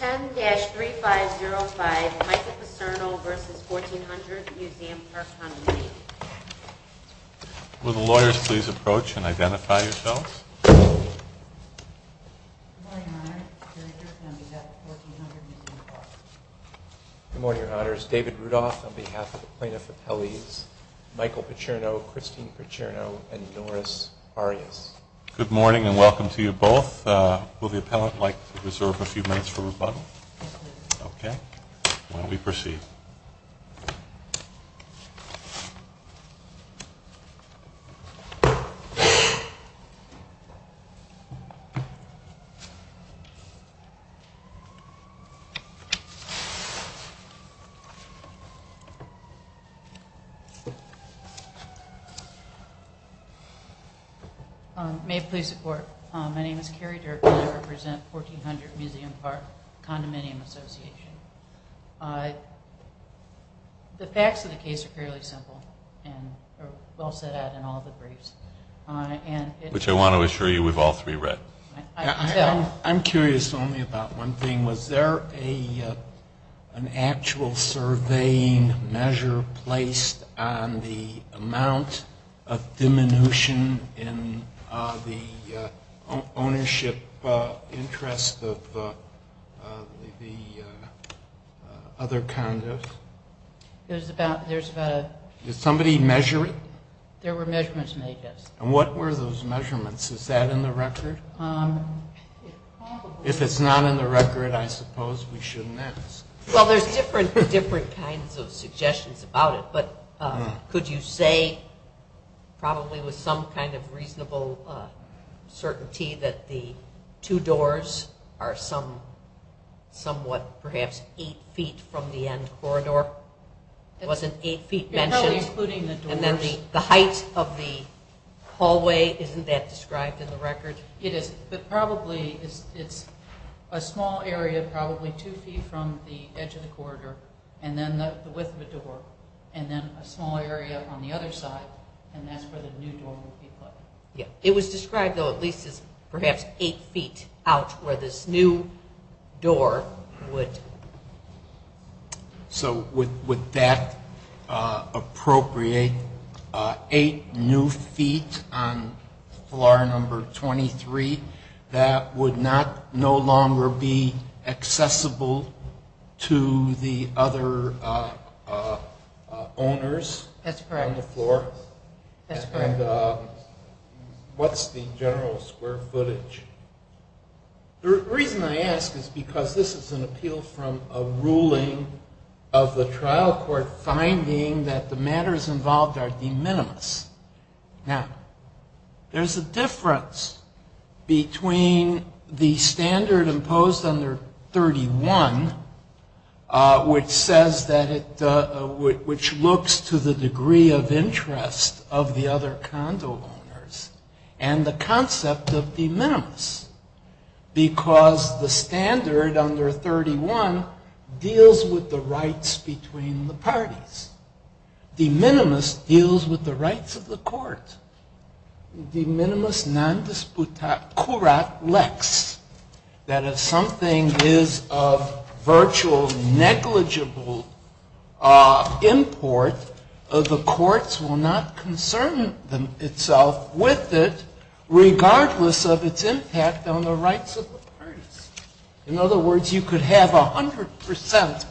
10-3505 Michael Percerno v. 1400 MUSEUM Park Condominium. Will the lawyers please approach and identify yourselves. Good morning, Your Honors. David Rudolph on behalf of the Plaintiff Appellees, Michael Percerno, Christine Percerno, and Norris Arias. Good morning and welcome to you both. Will the appellant like to reserve a few minutes for rebuttal? Okay. Why don't we proceed. May it please the Court. My name is Carrie Durkin and I represent 1400 MUSEUM Park Condominium Association. The facts of the case are fairly simple and well set out in all the briefs. Which I want to assure you we've all three read. I'm curious only about one thing. Was there an actual surveying measure placed on the amount of diminution in the ownership interest of the other condos? There's about a... Did somebody measure it? There were measurements made, yes. And what were those measurements? Is that in the record? If it's not in the record, I suppose we shouldn't ask. Well, there's different kinds of suggestions about it. But could you say probably with some kind of reasonable certainty that the two doors are somewhat perhaps eight feet from the end corridor? It wasn't eight feet mentioned? No, including the doors. And then the height of the hallway, isn't that described in the record? It is, but probably it's a small area, probably two feet from the edge of the corridor. And then the width of the door. And then a small area on the other side. And that's where the new door would be put. It was described though at least as perhaps eight feet out where this new door would... So would that appropriate eight new feet on floor number 23 that would no longer be accessible to the other owners on the floor? That's correct. And what's the general square footage? The reason I ask is because this is an appeal from a ruling of the trial court finding that the matters involved are de minimis. Now, there's a difference between the standard imposed under 31, which looks to the degree of interest of the other condo owners, and the concept of de minimis. Because the standard under 31 deals with the rights between the parties. De minimis deals with the rights of the court. De minimis non disputat curat lex. That if something is of virtual negligible import, the courts will not concern itself with it regardless of its impact on the rights of the parties. In other words, you could have 100% entitlement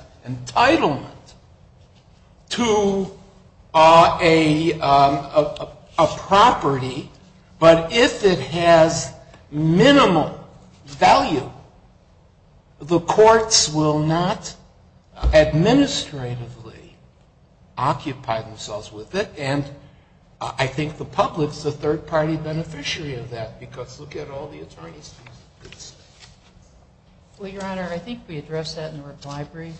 to a property, but if it has minimal value, the courts will not administratively occupy themselves with it. And I think the public's a third-party beneficiary of that, because look at all the attorneys. Well, Your Honor, I think we addressed that in the reply brief.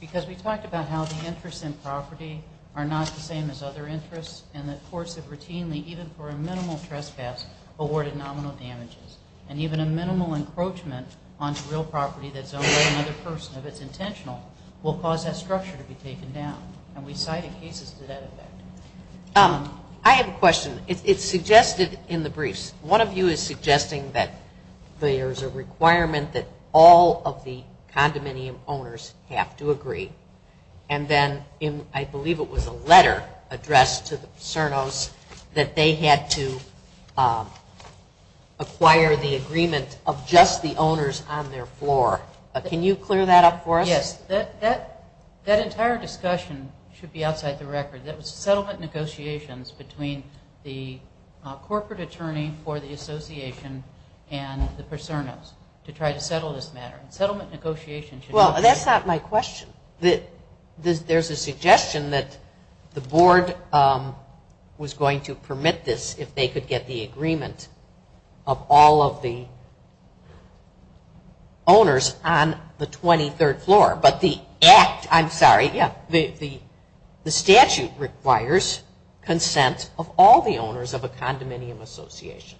Because we talked about how the interests in property are not the same as other interests, and that courts have routinely, even for a minimal trespass, awarded nominal damages. And even a minimal encroachment onto real property that's owned by another person, if it's intentional, will cause that structure to be taken down. And we cited cases to that effect. I have a question. It's suggested in the briefs. One of you is suggesting that there's a requirement that all of the condominium owners have to agree. And then I believe it was a letter addressed to the CERNOs that they had to acquire the agreement of just the owners on their floor. Can you clear that up for us? Yes. That entire discussion should be outside the record. That was settlement negotiations between the corporate attorney for the association and the CERNOs to try to settle this matter. Settlement negotiations should not be. Well, that's not my question. There's a suggestion that the board was going to permit this if they could get the agreement of all of the owners on the 23rd floor. But the act, I'm sorry, yeah, the statute requires consent of all the owners of a condominium association.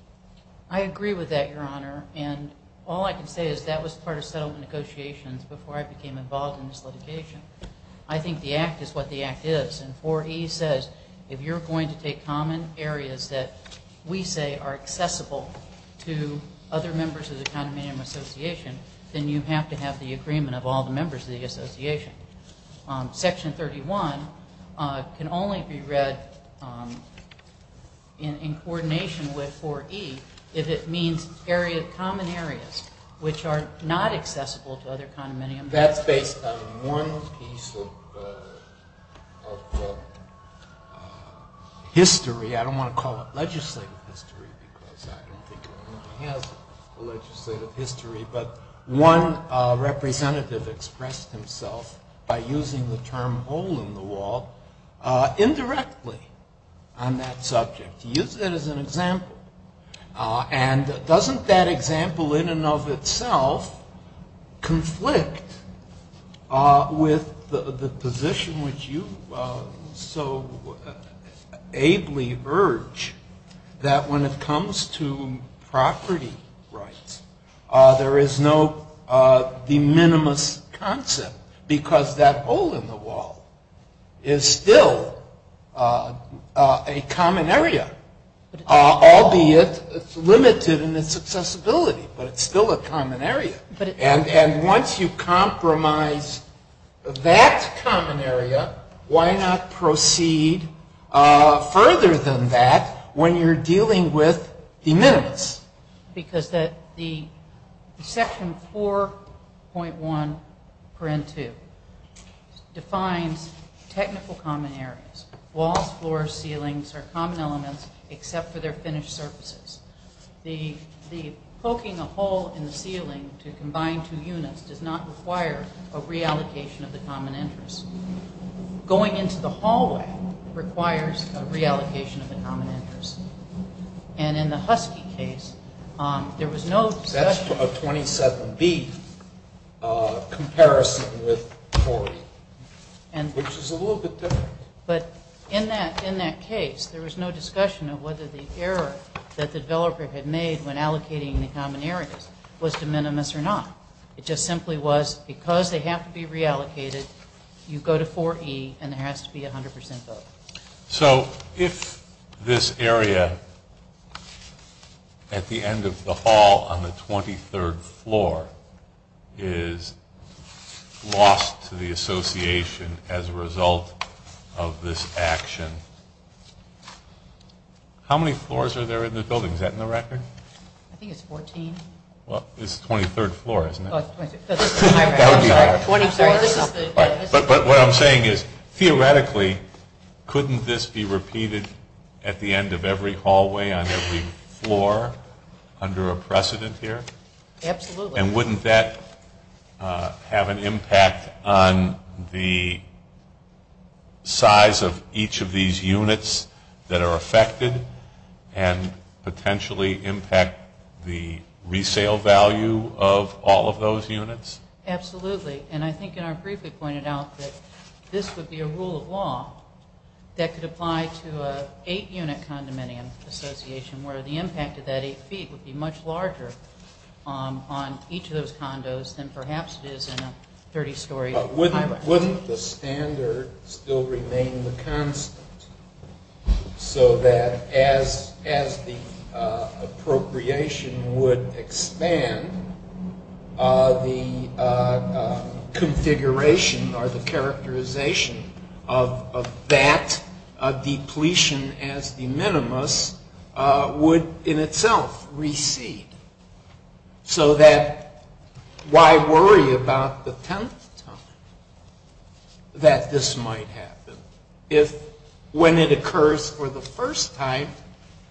I agree with that, Your Honor. And all I can say is that was part of settlement negotiations before I became involved in this litigation. I think the act is what the act is. And 4E says if you're going to take common areas that we say are accessible to other members of the condominium association, then you have to have the agreement of all the members of the association. Section 31 can only be read in coordination with 4E if it means common areas which are not accessible to other condominium members. That's based on one piece of history. I don't want to call it legislative history because I don't think it really has a legislative history. But one representative expressed himself by using the term hole in the wall indirectly on that subject. He used it as an example. And doesn't that example in and of itself conflict with the position which you so ably urge, that when it comes to property rights, there is no de minimis concept because that hole in the wall is still a common area, albeit it's limited in its accessibility, but it's still a common area. And once you compromise that common area, why not proceed further than that when you're dealing with de minimis? Because the section 4.1.2 defines technical common areas. Walls, floors, ceilings are common elements except for their finished surfaces. The poking a hole in the ceiling to combine two units does not require a reallocation of the common interest. Going into the hallway requires a reallocation of the common interest. And in the Husky case, there was no discussion. That's a 27B comparison with 4E, which is a little bit different. But in that case, there was no discussion of whether the error that the developer had made when allocating the common areas was de minimis or not. It just simply was because they have to be reallocated, you go to 4E, and there has to be a 100% vote. So if this area at the end of the hall on the 23rd floor is lost to the association as a result of this action, how many floors are there in the building? Is that in the record? I think it's 14. Well, it's the 23rd floor, isn't it? That would be wrong. But what I'm saying is, theoretically, couldn't this be repeated at the end of every hallway on every floor under a precedent here? Absolutely. And wouldn't that have an impact on the size of each of these units that are affected and potentially impact the resale value of all of those units? Absolutely. And I think, and I briefly pointed out that this would be a rule of law that could apply to an eight-unit condominium association, where the impact of that eight feet would be much larger on each of those condos than perhaps it is in a 30-story high-rise. Wouldn't the standard still remain the constant so that as the appropriation would expand, the configuration or the characterization of that depletion as the minimus would in itself recede? So that why worry about the tenth time that this might happen if, when it occurs for the first time,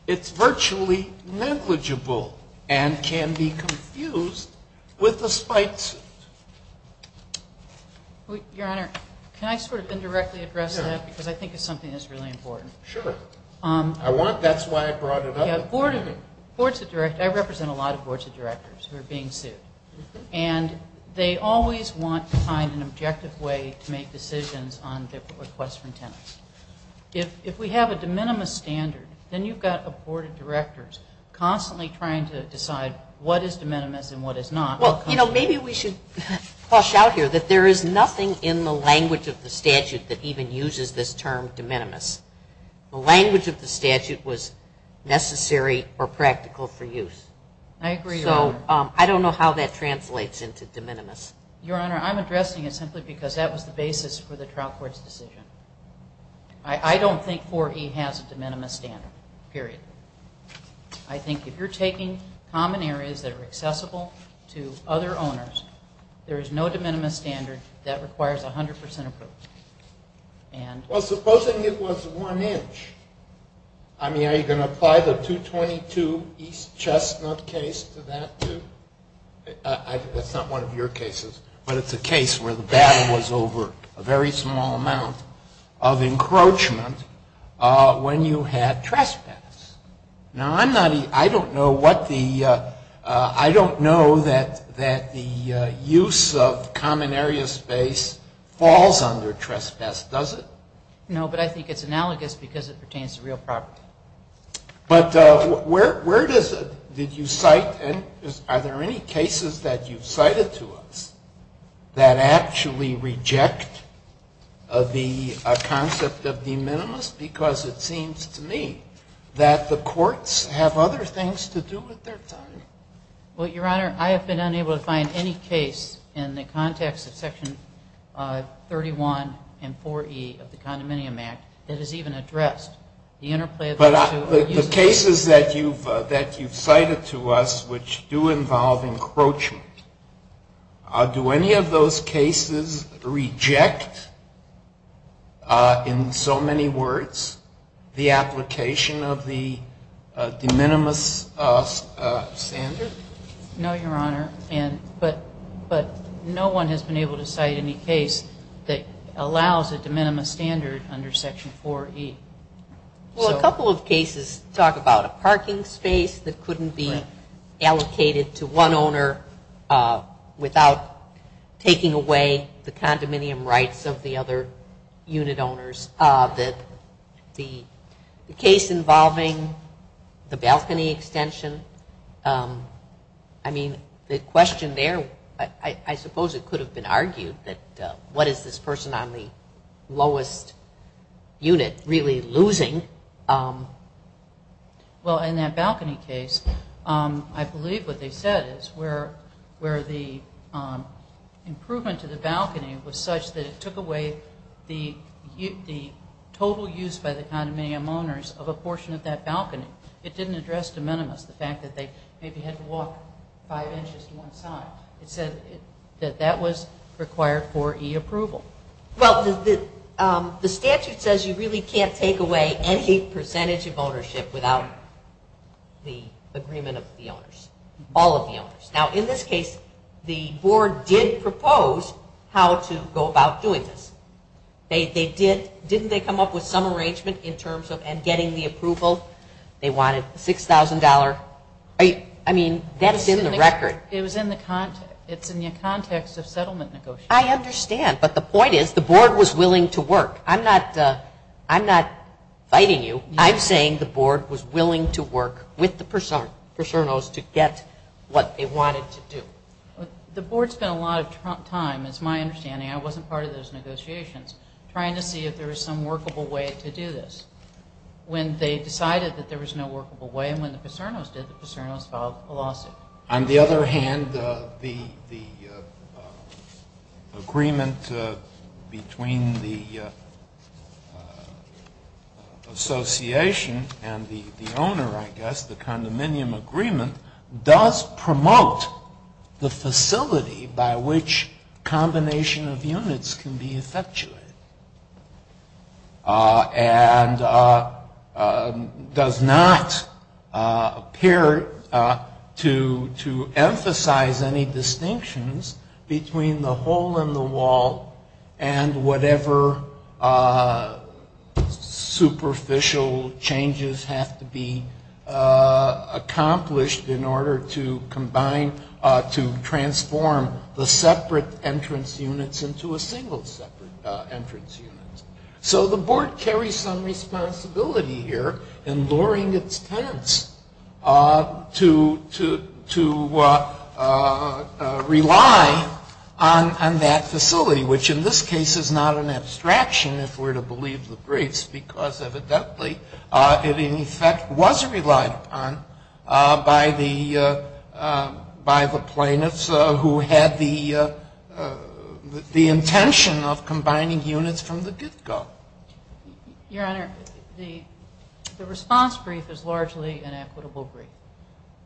it's virtually negligible and can be confused with the spike suit? Your Honor, can I sort of indirectly address that? Sure. Because I think it's something that's really important. Sure. I want, that's why I brought it up. I represent a lot of boards of directors who are being sued. And they always want to find an objective way to make decisions on requests from tenants. If we have a de minimis standard, then you've got a board of directors constantly trying to decide what is de minimis and what is not. Well, you know, maybe we should flush out here that there is nothing in the language of the statute that even uses this term de minimis. The language of the statute was necessary or practical for use. I agree, Your Honor. So I don't know how that translates into de minimis. Your Honor, I'm addressing it simply because that was the basis for the trial court's decision. I don't think 4E has a de minimis standard, period. I think if you're taking common areas that are accessible to other owners, there is no de minimis standard that requires 100% approval. Well, supposing it was one inch. I mean, are you going to apply the 222 East Chestnut case to that too? That's not one of your cases. But it's a case where the battle was over a very small amount of encroachment when you had trespass. Now, I don't know that the use of common area space falls under trespass, does it? No, but I think it's analogous because it pertains to real property. But where did you cite? Are there any cases that you've cited to us that actually reject the concept of de minimis? Because it seems to me that the courts have other things to do with their time. Well, Your Honor, I have been unable to find any case in the context of Section 31 and 4E of the Condominium Act that has even addressed the interplay of those two. But the cases that you've cited to us which do involve encroachment, do any of those cases reject, in so many words, the application of the de minimis standard? No, Your Honor. But no one has been able to cite any case that allows a de minimis standard under Section 4E. Well, a couple of cases talk about a parking space that couldn't be allocated to one owner without taking away the condominium rights of the other unit owners. The case involving the balcony extension, I mean, the question there, I suppose it could have been argued that what is this person on the lowest unit really losing? Well, in that balcony case, I believe what they said is where the improvement to the balcony was such that it took away the total use by the condominium owners of a portion of that balcony. It didn't address de minimis, the fact that they maybe had to walk five inches to one side. It said that that was required for e-approval. Well, the statute says you really can't take away any percentage of ownership without the agreement of the owners, all of the owners. Now, in this case, the board did propose how to go about doing this. Didn't they come up with some arrangement in terms of getting the approval? They wanted $6,000. I mean, that's in the record. It was in the context. It's in the context of settlement negotiations. I understand, but the point is the board was willing to work. I'm not fighting you. I'm saying the board was willing to work with the PASERNOS to get what they wanted to do. The board spent a lot of time, it's my understanding, I wasn't part of those negotiations, trying to see if there was some workable way to do this. When they decided that there was no workable way and when the PASERNOS did, the PASERNOS filed a lawsuit. On the other hand, the agreement between the association and the owner, I guess, the condominium agreement, does promote the facility by which combination of units can be effectuated and does not appear to emphasize any distinctions between the hole in the wall and whatever superficial changes have to be accomplished in order to combine, to transform the separate entrance units into a single separate entrance unit. So the board carries some responsibility here in luring its tenants to rely on that facility, which in this case is not an abstraction if we're to believe the briefs, because evidently it in effect was relied upon by the plaintiffs who had the intention of combining units from the get-go. Your Honor, the response brief is largely an equitable brief.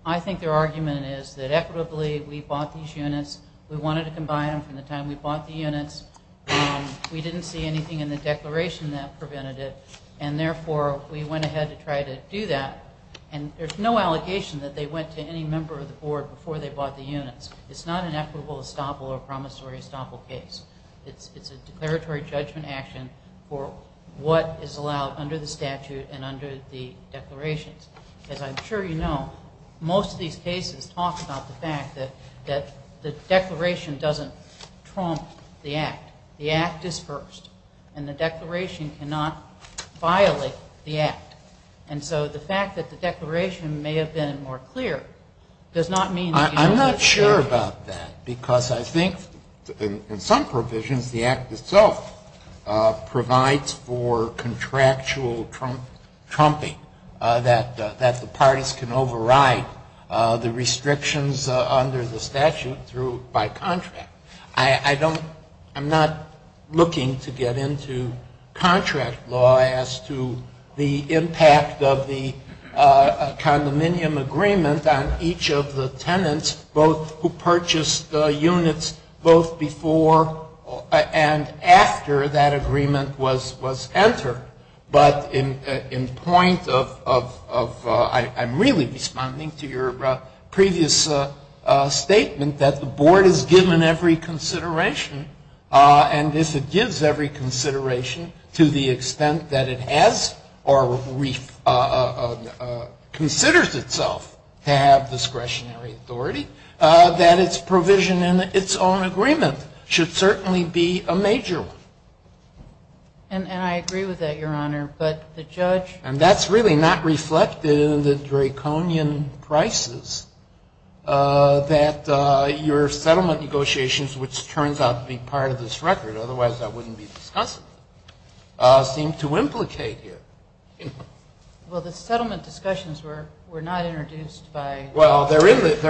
I think their argument is that equitably we bought these units, we wanted to combine them from the time we bought the units, we didn't see anything in the declaration that prevented it, and therefore we went ahead to try to do that. And there's no allegation that they went to any member of the board before they bought the units. It's not an equitable estoppel or promissory estoppel case. It's a declaratory judgment action for what is allowed under the statute and under the declarations. As I'm sure you know, most of these cases talk about the fact that the declaration doesn't trump the act. The act is first. And the declaration cannot violate the act. And so the fact that the declaration may have been more clear does not mean that it isn't true. I'm not sure about that, because I think in some provisions the act itself provides for contractual trumping, that the parties can override the restrictions under the statute by contract. I'm not looking to get into contract law as to the impact of the condominium agreement on each of the tenants, both who purchased units both before and after that agreement was entered. But in point of ‑‑ I'm really responding to your previous statement that the board is given every consideration, and if it gives every consideration to the extent that it has or considers itself to have discretionary authority, that its provision in its own agreement should certainly be a major one. And I agree with that, Your Honor, but the judge ‑‑ And that's really not reflected in the Draconian prices that your settlement negotiations, which turns out to be part of this record, otherwise that wouldn't be discussed, seem to implicate here. Well, the settlement discussions were not introduced by ‑‑ Well, they're in the briefs.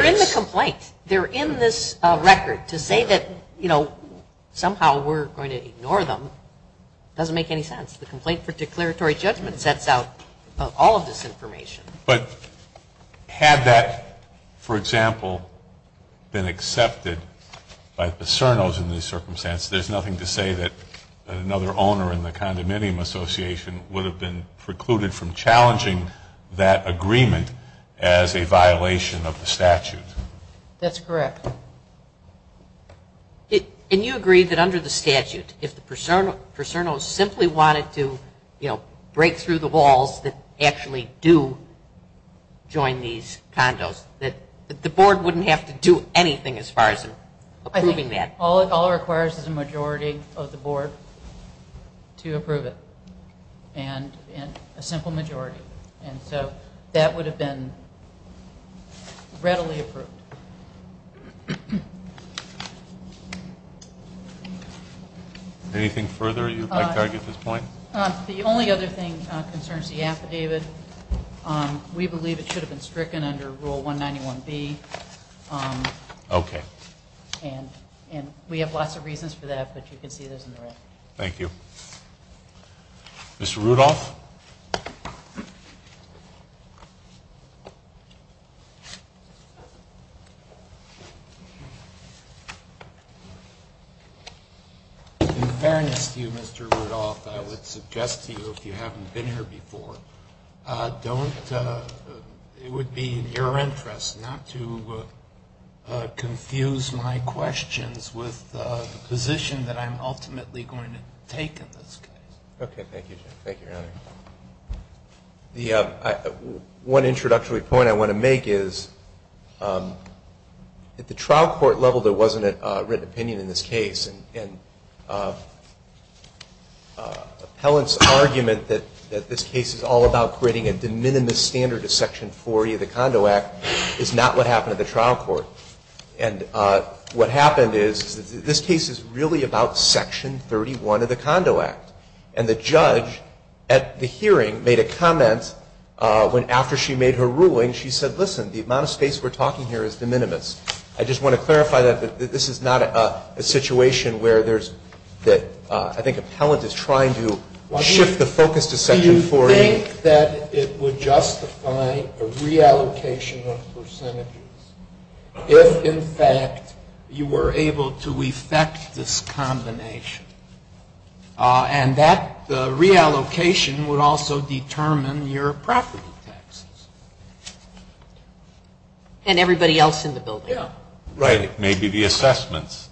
They're in the complaint. They're in this record. To say that, you know, somehow we're going to ignore them doesn't make any sense. The complaint for declaratory judgment sets out all of this information. But had that, for example, been accepted by the CERNOs in these circumstances, there's nothing to say that another owner in the condominium association would have been precluded from challenging that agreement as a violation of the statute. That's correct. And you agree that under the statute, if the CERNOs simply wanted to, you know, break through the walls that actually do join these condos, that the board wouldn't have to do anything as far as approving that? All it requires is a majority of the board to approve it, and a simple majority. And so that would have been readily approved. Anything further you'd like to argue at this point? The only other thing that concerns the affidavit, we believe it should have been stricken under Rule 191B. Okay. And we have lots of reasons for that, but you can see those on the right. Thank you. Mr. Rudolph? In fairness to you, Mr. Rudolph, I would suggest to you, if you haven't been here before, don't, it would be in your interest not to confuse my questions with the position that I'm ultimately going to take in this case. Okay. Thank you. Thank you, Your Honor. One introductory point I want to make is, at the trial court level, there wasn't a written opinion in this case, and appellant's argument that this case is all about creating a de minimis standard of Section 40 of the Condo Act is not what happened at the trial court. And what happened is, this case is really about Section 31 of the Condo Act. And the judge at the hearing made a comment when, after she made her ruling, she said, listen, the amount of space we're talking here is de minimis. I just want to clarify that this is not a situation where there's, I think appellant is trying to shift the focus to Section 40. Do you think that it would justify a reallocation of percentages if, in fact, you were able to effect this combination? And that reallocation would also determine your property taxes. And everybody else in the building. Yeah. Right. Maybe the assessments.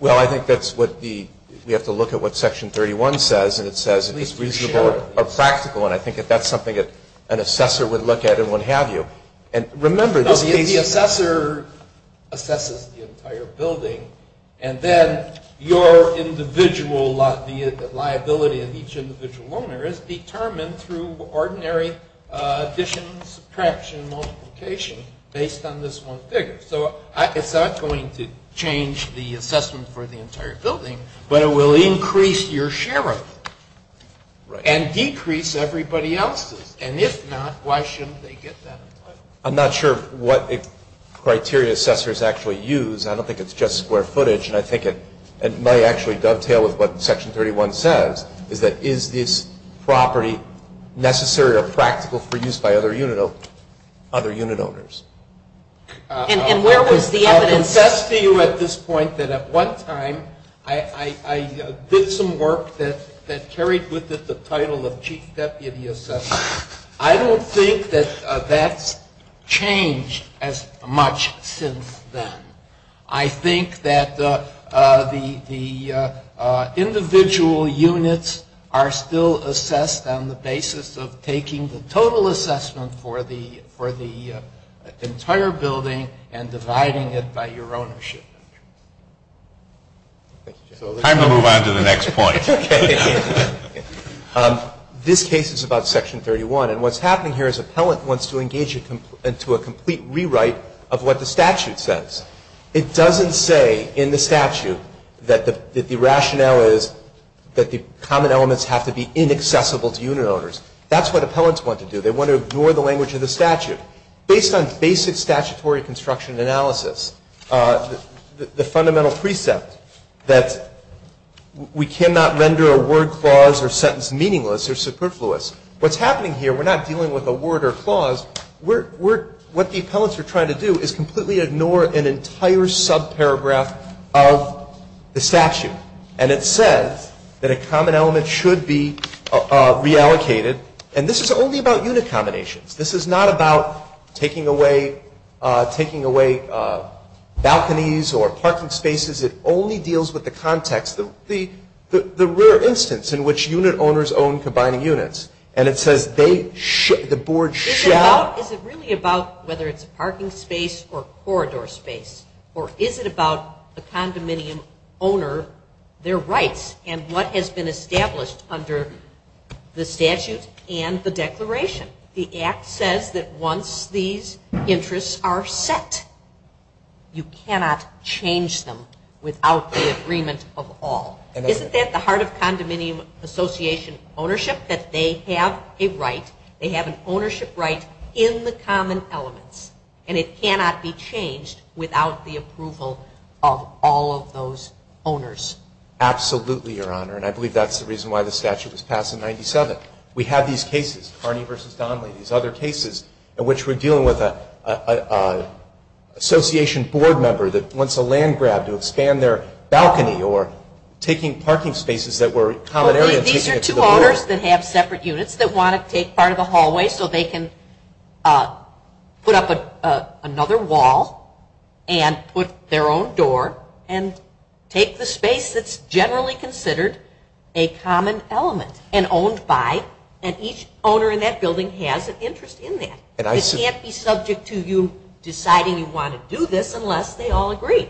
Well, I think that's what the, we have to look at what Section 31 says, and it says it's reasonable or practical, and I think that that's something that an assessor would look at and what have you. And remember, this case… No, the assessor assesses the entire building, and then your individual, the liability of each individual owner, is determined through ordinary addition, subtraction, multiplication based on this one figure. So it's not going to change the assessment for the entire building, but it will increase your share of it and decrease everybody else's. And if not, why shouldn't they get that entitlement? I'm not sure what criteria assessors actually use. I don't think it's just square footage, and I think it may actually dovetail with what Section 31 says, is that is this property necessary or practical for use by other unit owners? And where was the evidence? I'll confess to you at this point that at one time I did some work that carried with it the title of Chief Deputy Assessor. I don't think that that's changed as much since then. I think that the individual units are still assessed on the basis of taking the total assessment for the entire building and dividing it by your ownership. Time to move on to the next point. Okay. This case is about Section 31. And what's happening here is an appellant wants to engage into a complete rewrite of what the statute says. It doesn't say in the statute that the rationale is that the common elements have to be inaccessible to unit owners. That's what appellants want to do. They want to ignore the language of the statute. Based on basic statutory construction analysis, the fundamental precept that we cannot render a word clause or sentence meaningless or superfluous. What's happening here, we're not dealing with a word or clause. What the appellants are trying to do is completely ignore an entire subparagraph of the statute. And it says that a common element should be reallocated. And this is only about unit combinations. This is not about taking away balconies or parking spaces. It only deals with the context, the rare instance in which unit owners own combining units. And it says they should, the board should. Is it really about whether it's a parking space or corridor space? Or is it about the condominium owner, their rights, and what has been established under the statute and the declaration? The Act says that once these interests are set, you cannot change them without the agreement of all. Isn't that the heart of condominium association ownership? That they have a right, they have an ownership right in the common elements. And it cannot be changed without the approval of all of those owners. Absolutely, Your Honor. And I believe that's the reason why the statute was passed in 1997. We have these cases, Carney v. Donnelly, these other cases in which we're dealing with an association board member that wants a land grab to expand their balcony or taking parking spaces that were common areas. These are two owners that have separate units that want to take part of the hallway so they can put up another wall and put their own door and take the space that's generally considered a common element and owned by, and each owner in that building has an interest in that. It can't be subject to you deciding you want to do this unless they all agree.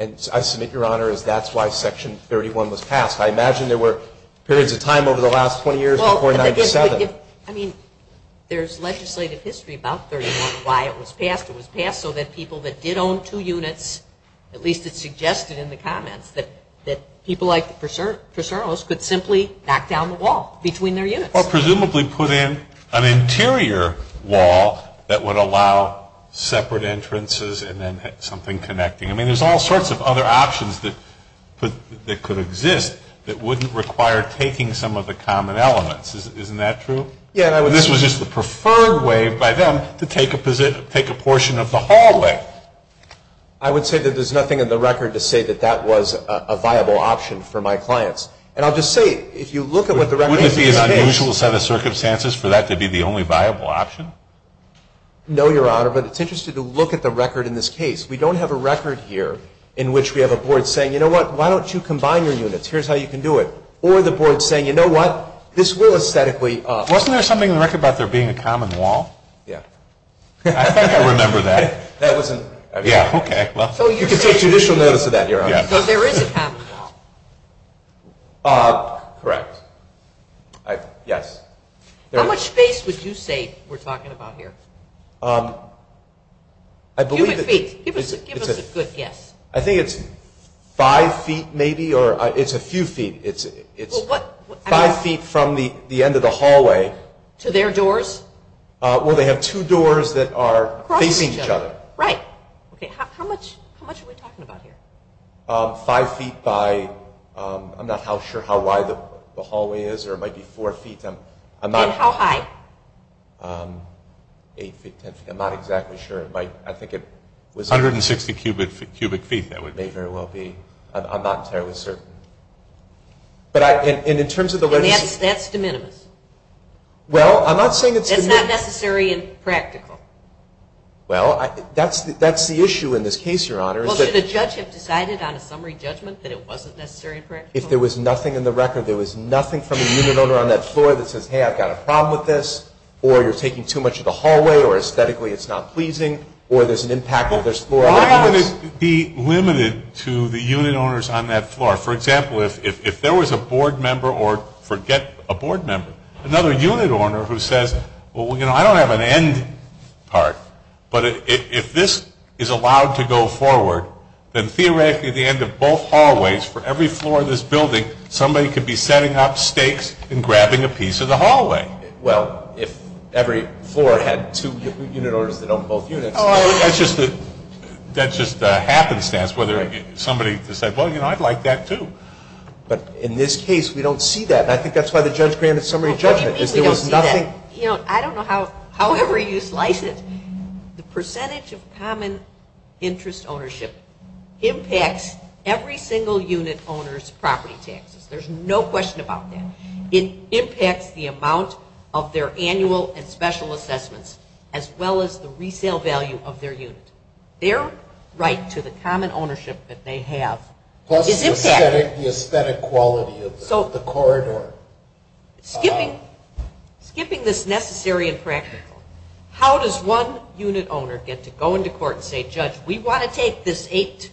And I submit, Your Honor, that's why Section 31 was passed. I imagine there were periods of time over the last 20 years before 97. I mean, there's legislative history about 31, why it was passed. It was passed so that people that did own two units, at least it's suggested in the comments, that people like the preservers could simply knock down the wall between their units. Or presumably put in an interior wall that would allow separate entrances and then something connecting. I mean, there's all sorts of other options that could exist that wouldn't require taking some of the common elements. Isn't that true? This was just the preferred way by them to take a portion of the hallway. I would say that there's nothing in the record to say that that was a viable option for my clients. And I'll just say, if you look at what the record is. Wouldn't it be an unusual set of circumstances for that to be the only viable option? No, Your Honor, but it's interesting to look at the record in this case. We don't have a record here in which we have a board saying, you know what, why don't you combine your units? Here's how you can do it. Or the board saying, you know what, this will aesthetically. Wasn't there something in the record about there being a common wall? Yeah. I think I remember that. That wasn't. Yeah, okay. You can take judicial notice of that, Your Honor. So there is a common wall. Correct. Yes. How much space would you say we're talking about here? Give us a good guess. I think it's five feet maybe, or it's a few feet. It's five feet from the end of the hallway. To their doors? Well, they have two doors that are facing each other. Right. Okay, how much are we talking about here? Five feet by, I'm not sure how wide the hallway is, or it might be four feet. And how high? Eight feet, 10 feet, I'm not exactly sure. I think it was. 160 cubic feet, that would be. May very well be. I'm not entirely certain. And in terms of the. Well, I'm not saying. That's not necessary and practical. Well, that's the issue in this case, Your Honor. Well, should the judge have decided on a summary judgment that it wasn't necessary and practical? If there was nothing in the record, there was nothing from the unit owner on that floor that says, hey, I've got a problem with this, or you're taking too much of the hallway, or aesthetically it's not pleasing, or there's an impact of this floor. Why would it be limited to the unit owners on that floor? For example, if there was a board member, or forget a board member, another unit owner who says, well, you know, I don't have an end part, but if this is allowed to go forward, then theoretically at the end of both hallways for every floor of this building, somebody could be setting up stakes and grabbing a piece of the hallway. Well, if every floor had two unit owners that own both units. That's just the happenstance, whether somebody said, well, you know, I'd like that too. But in this case, we don't see that. And I think that's why the judge granted summary judgment. I don't know however you slice it. The percentage of common interest ownership impacts every single unit owner's property taxes. There's no question about that. It impacts the amount of their annual and special assessments, as well as the resale value of their unit. Their right to the common ownership that they have is impacted. The aesthetic quality of the corridor. Skipping this necessary and practical, how does one unit owner get to go into court and say, judge, we want to take this 8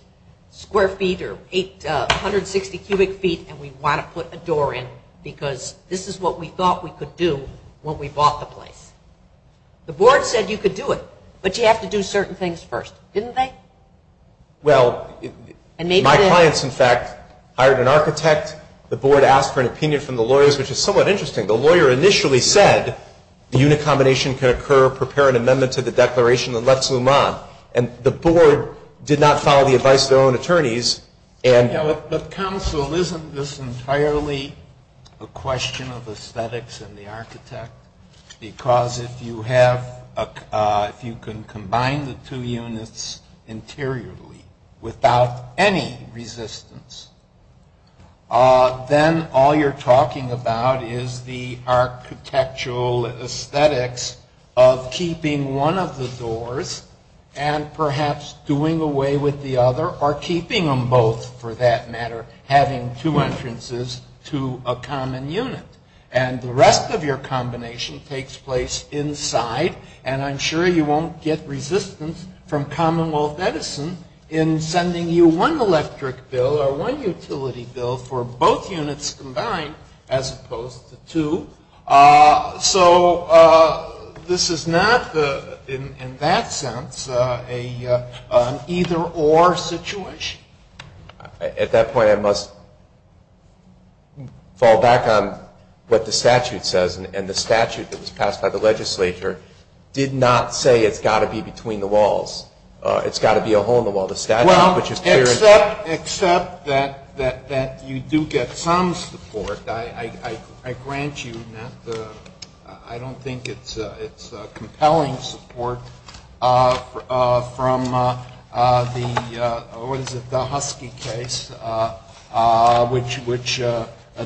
square feet or 860 cubic feet, and we want to put a door in because this is what we thought we could do when we bought the place. The board said you could do it, but you have to do certain things first, didn't they? Well, my clients, in fact, hired an architect. The board asked for an opinion from the lawyers, which is somewhat interesting. The lawyer initially said the unit combination could occur, prepare an amendment to the declaration, and let's move on. And the board did not follow the advice of their own attorneys. But counsel, isn't this entirely a question of aesthetics and the architect? Because if you can combine the two units interiorly without any resistance, then all you're talking about is the architectural aesthetics of keeping one of the doors and perhaps doing away with the other or keeping them both, for that matter, having two entrances to a common unit. And the rest of your combination takes place inside, and I'm sure you won't get resistance from Commonwealth Edison in sending you one electric bill or one utility bill for both units combined as opposed to two. So this is not, in that sense, an either-or situation. At that point, I must fall back on what the statute says. And the statute that was passed by the legislature did not say it's got to be between the walls. It's got to be a hole in the wall. Well, except that you do get some support. I grant you that. I don't think it's compelling support from the, what is it, the Husky case, which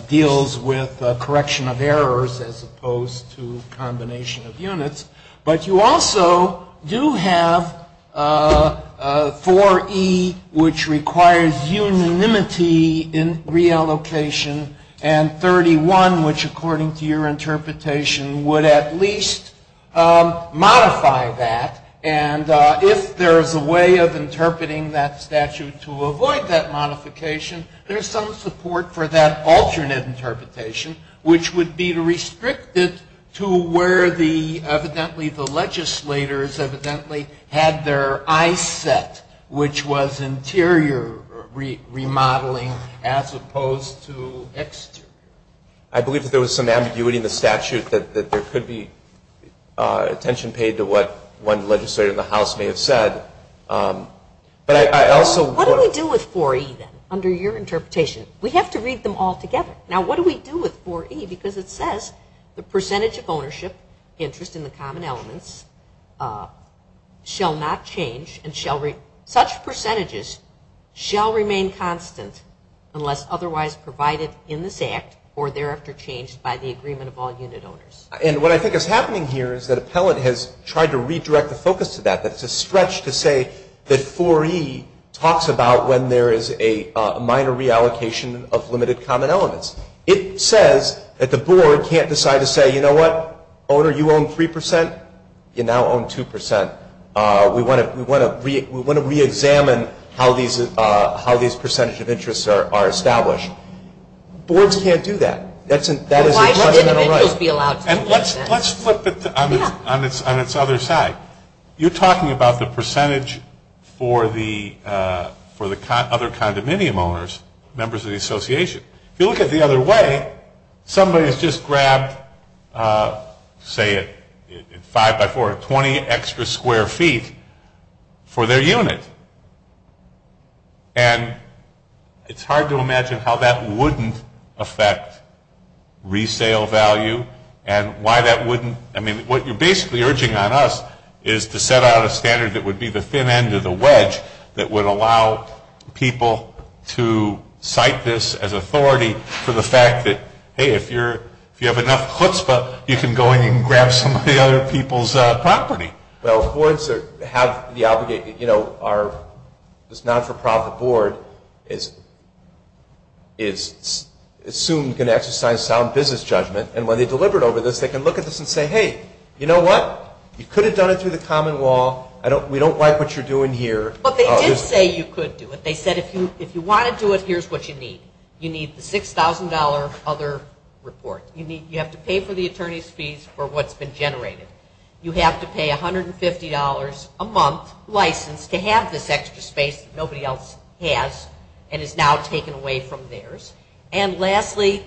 deals with correction of errors as opposed to combination of units. But you also do have 4E, which requires unanimity in reallocation, and 31, which, according to your interpretation, would at least modify that. And if there's a way of interpreting that statute to avoid that modification, there's some support for that alternate interpretation, which would be restricted to where the, evidently, the legislators evidently had their eyes set, which was interior remodeling as opposed to exterior. I believe that there was some ambiguity in the statute that there could be attention paid to what one legislator in the House may have said. What do we do with 4E, then, under your interpretation? We have to read them all together. Now, what do we do with 4E? Because it says the percentage of ownership interest in the common elements shall not change and we've tried to redirect the focus to that, that it's a stretch to say that 4E talks about when there is a minor reallocation of limited common elements. It says that the board can't decide to say, you know what, owner, you own 3%, you now own 2%. We want to reexamine how these percentage of interests are established. Boards can't do that. That is a judgmental right. Let's flip it on its other side. You're talking about the percentage for the other condominium owners, members of the association. If you look at it the other way, somebody has just grabbed, say, 5 by 4, 20 extra square feet for their unit. And it's hard to imagine how that wouldn't affect resale value and why that wouldn't, I mean, what you're basically urging on us is to set out a standard that would be the thin end of the wedge that would allow people to cite this as authority for the fact that, hey, if you have enough chutzpah, you can go in and grab some of the other people's property. Well, boards have the obligation, you know, our non-for-profit board is soon going to exercise sound business judgment. And when they're deliberate over this, they can look at this and say, hey, you know what, you could have done it through the common law. We don't like what you're doing here. But they did say you could do it. They said if you want to do it, here's what you need. You need the $6,000 other report. You have to pay for the attorney's fees for what's been generated. You have to pay $150 a month license to have this extra space that nobody else has and is now taken away from theirs. And lastly,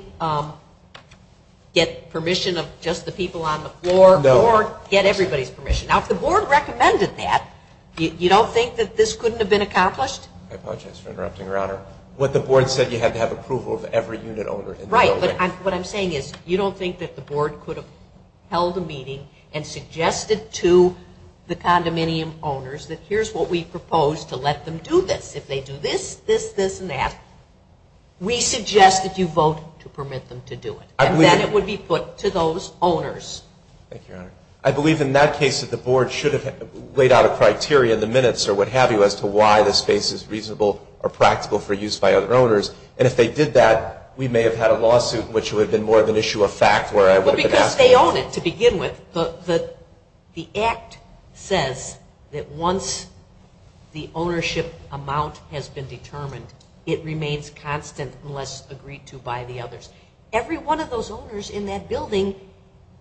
get permission of just the people on the floor or get everybody's permission. Now, if the board recommended that, you don't think that this couldn't have been accomplished? I apologize for interrupting, Your Honor. What the board said, you had to have approval of every unit owner in the building. Right, but what I'm saying is you don't think that the board could have held a meeting and suggested to the condominium owners that here's what we propose to let them do this. If they do this, this, this, and that, we suggest that you vote to permit them to do it. And then it would be put to those owners. I believe in that case that the board should have laid out a criteria in the minutes or what have you as to why this space is reasonable or practical for use by other owners. And if they did that, we may have had a lawsuit in which it would have been more of an issue of fact. Well, because they own it to begin with. The act says that once the ownership amount has been determined, it remains constant unless agreed to by the others. Every one of those owners in that building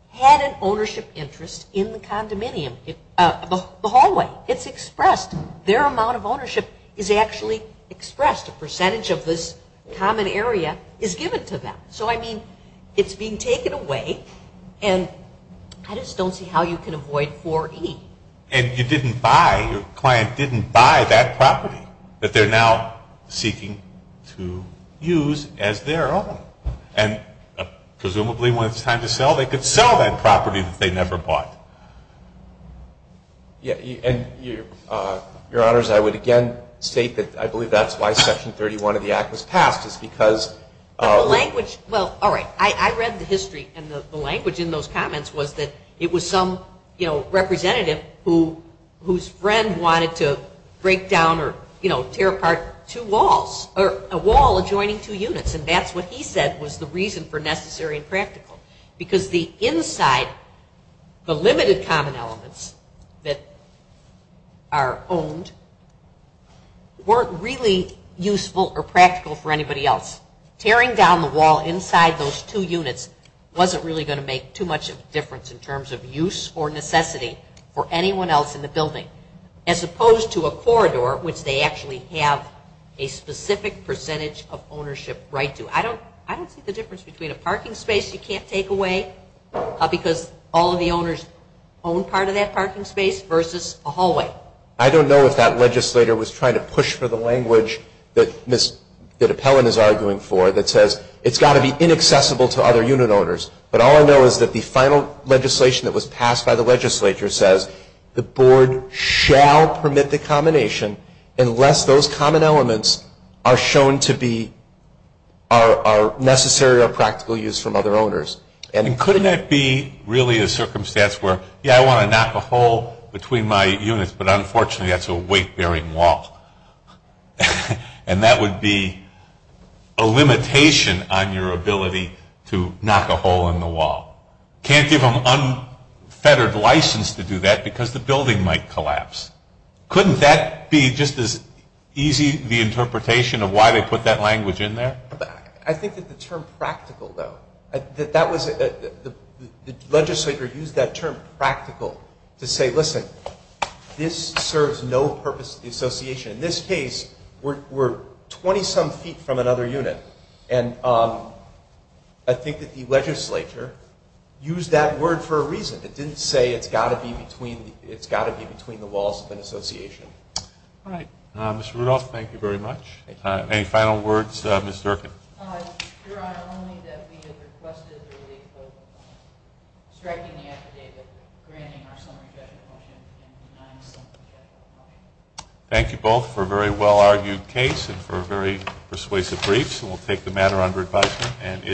had an ownership interest in the condominium, the hallway. It's expressed. Their amount of ownership is actually expressed. A percentage of this common area is given to them. So, I mean, it's being taken away. And I just don't see how you can avoid 4E. And you didn't buy, your client didn't buy that property that they're now seeking to use as their own. And presumably when it's time to sell, they could sell that property that they never bought. Your Honors, I would again state that I believe that's why Section 31 of the act was passed. It's because... I read the history and the language in those comments was that it was some representative whose friend wanted to break down or tear apart two walls, or a wall adjoining two units. And that's what he said was the reason for necessary and practical. Because the inside, the limited common elements that are owned weren't really useful or practical for anybody else. Tearing down the wall inside those two units wasn't really going to make too much of a difference in terms of use or necessity for anyone else in the building. As opposed to a corridor, which they actually have a specific percentage of ownership right to. I don't see the difference between a parking space you can't take away because all of the owners own part of that parking space, versus a hallway. I don't know if that legislator was trying to push for the language that Ms. DiPellon is arguing for that says it's got to be inaccessible to other unit owners. But all I know is that the final legislation that was passed by the legislature says that the board shall permit the combination unless those common elements are shown to be necessary or practical use from other owners. And couldn't that be really a circumstance where, yeah, I want to knock a hole between my units, but unfortunately that's a weight-bearing wall. And that would be a limitation on your ability to knock a hole in the wall. Can't give them unfettered license to do that because the building might collapse. Couldn't that be just as easy the interpretation of why they put that language in there? I think that the term practical, though, the legislator used that term practical to say, listen, this serves no purpose to the association. In this case, we're 20-some feet from another unit. And I think that the legislature used that word for a reason. It didn't say it's got to be between the walls of an association. All right. Mr. Rudolph, thank you very much. Any final words, Ms. Durkin? Your Honor, only that we have requested the relief of striking the affidavit granting our summary judgment motion and denying the summary judgment motion. Thank you both for a very well-argued case and for very persuasive briefs. And we'll take the matter under advisement.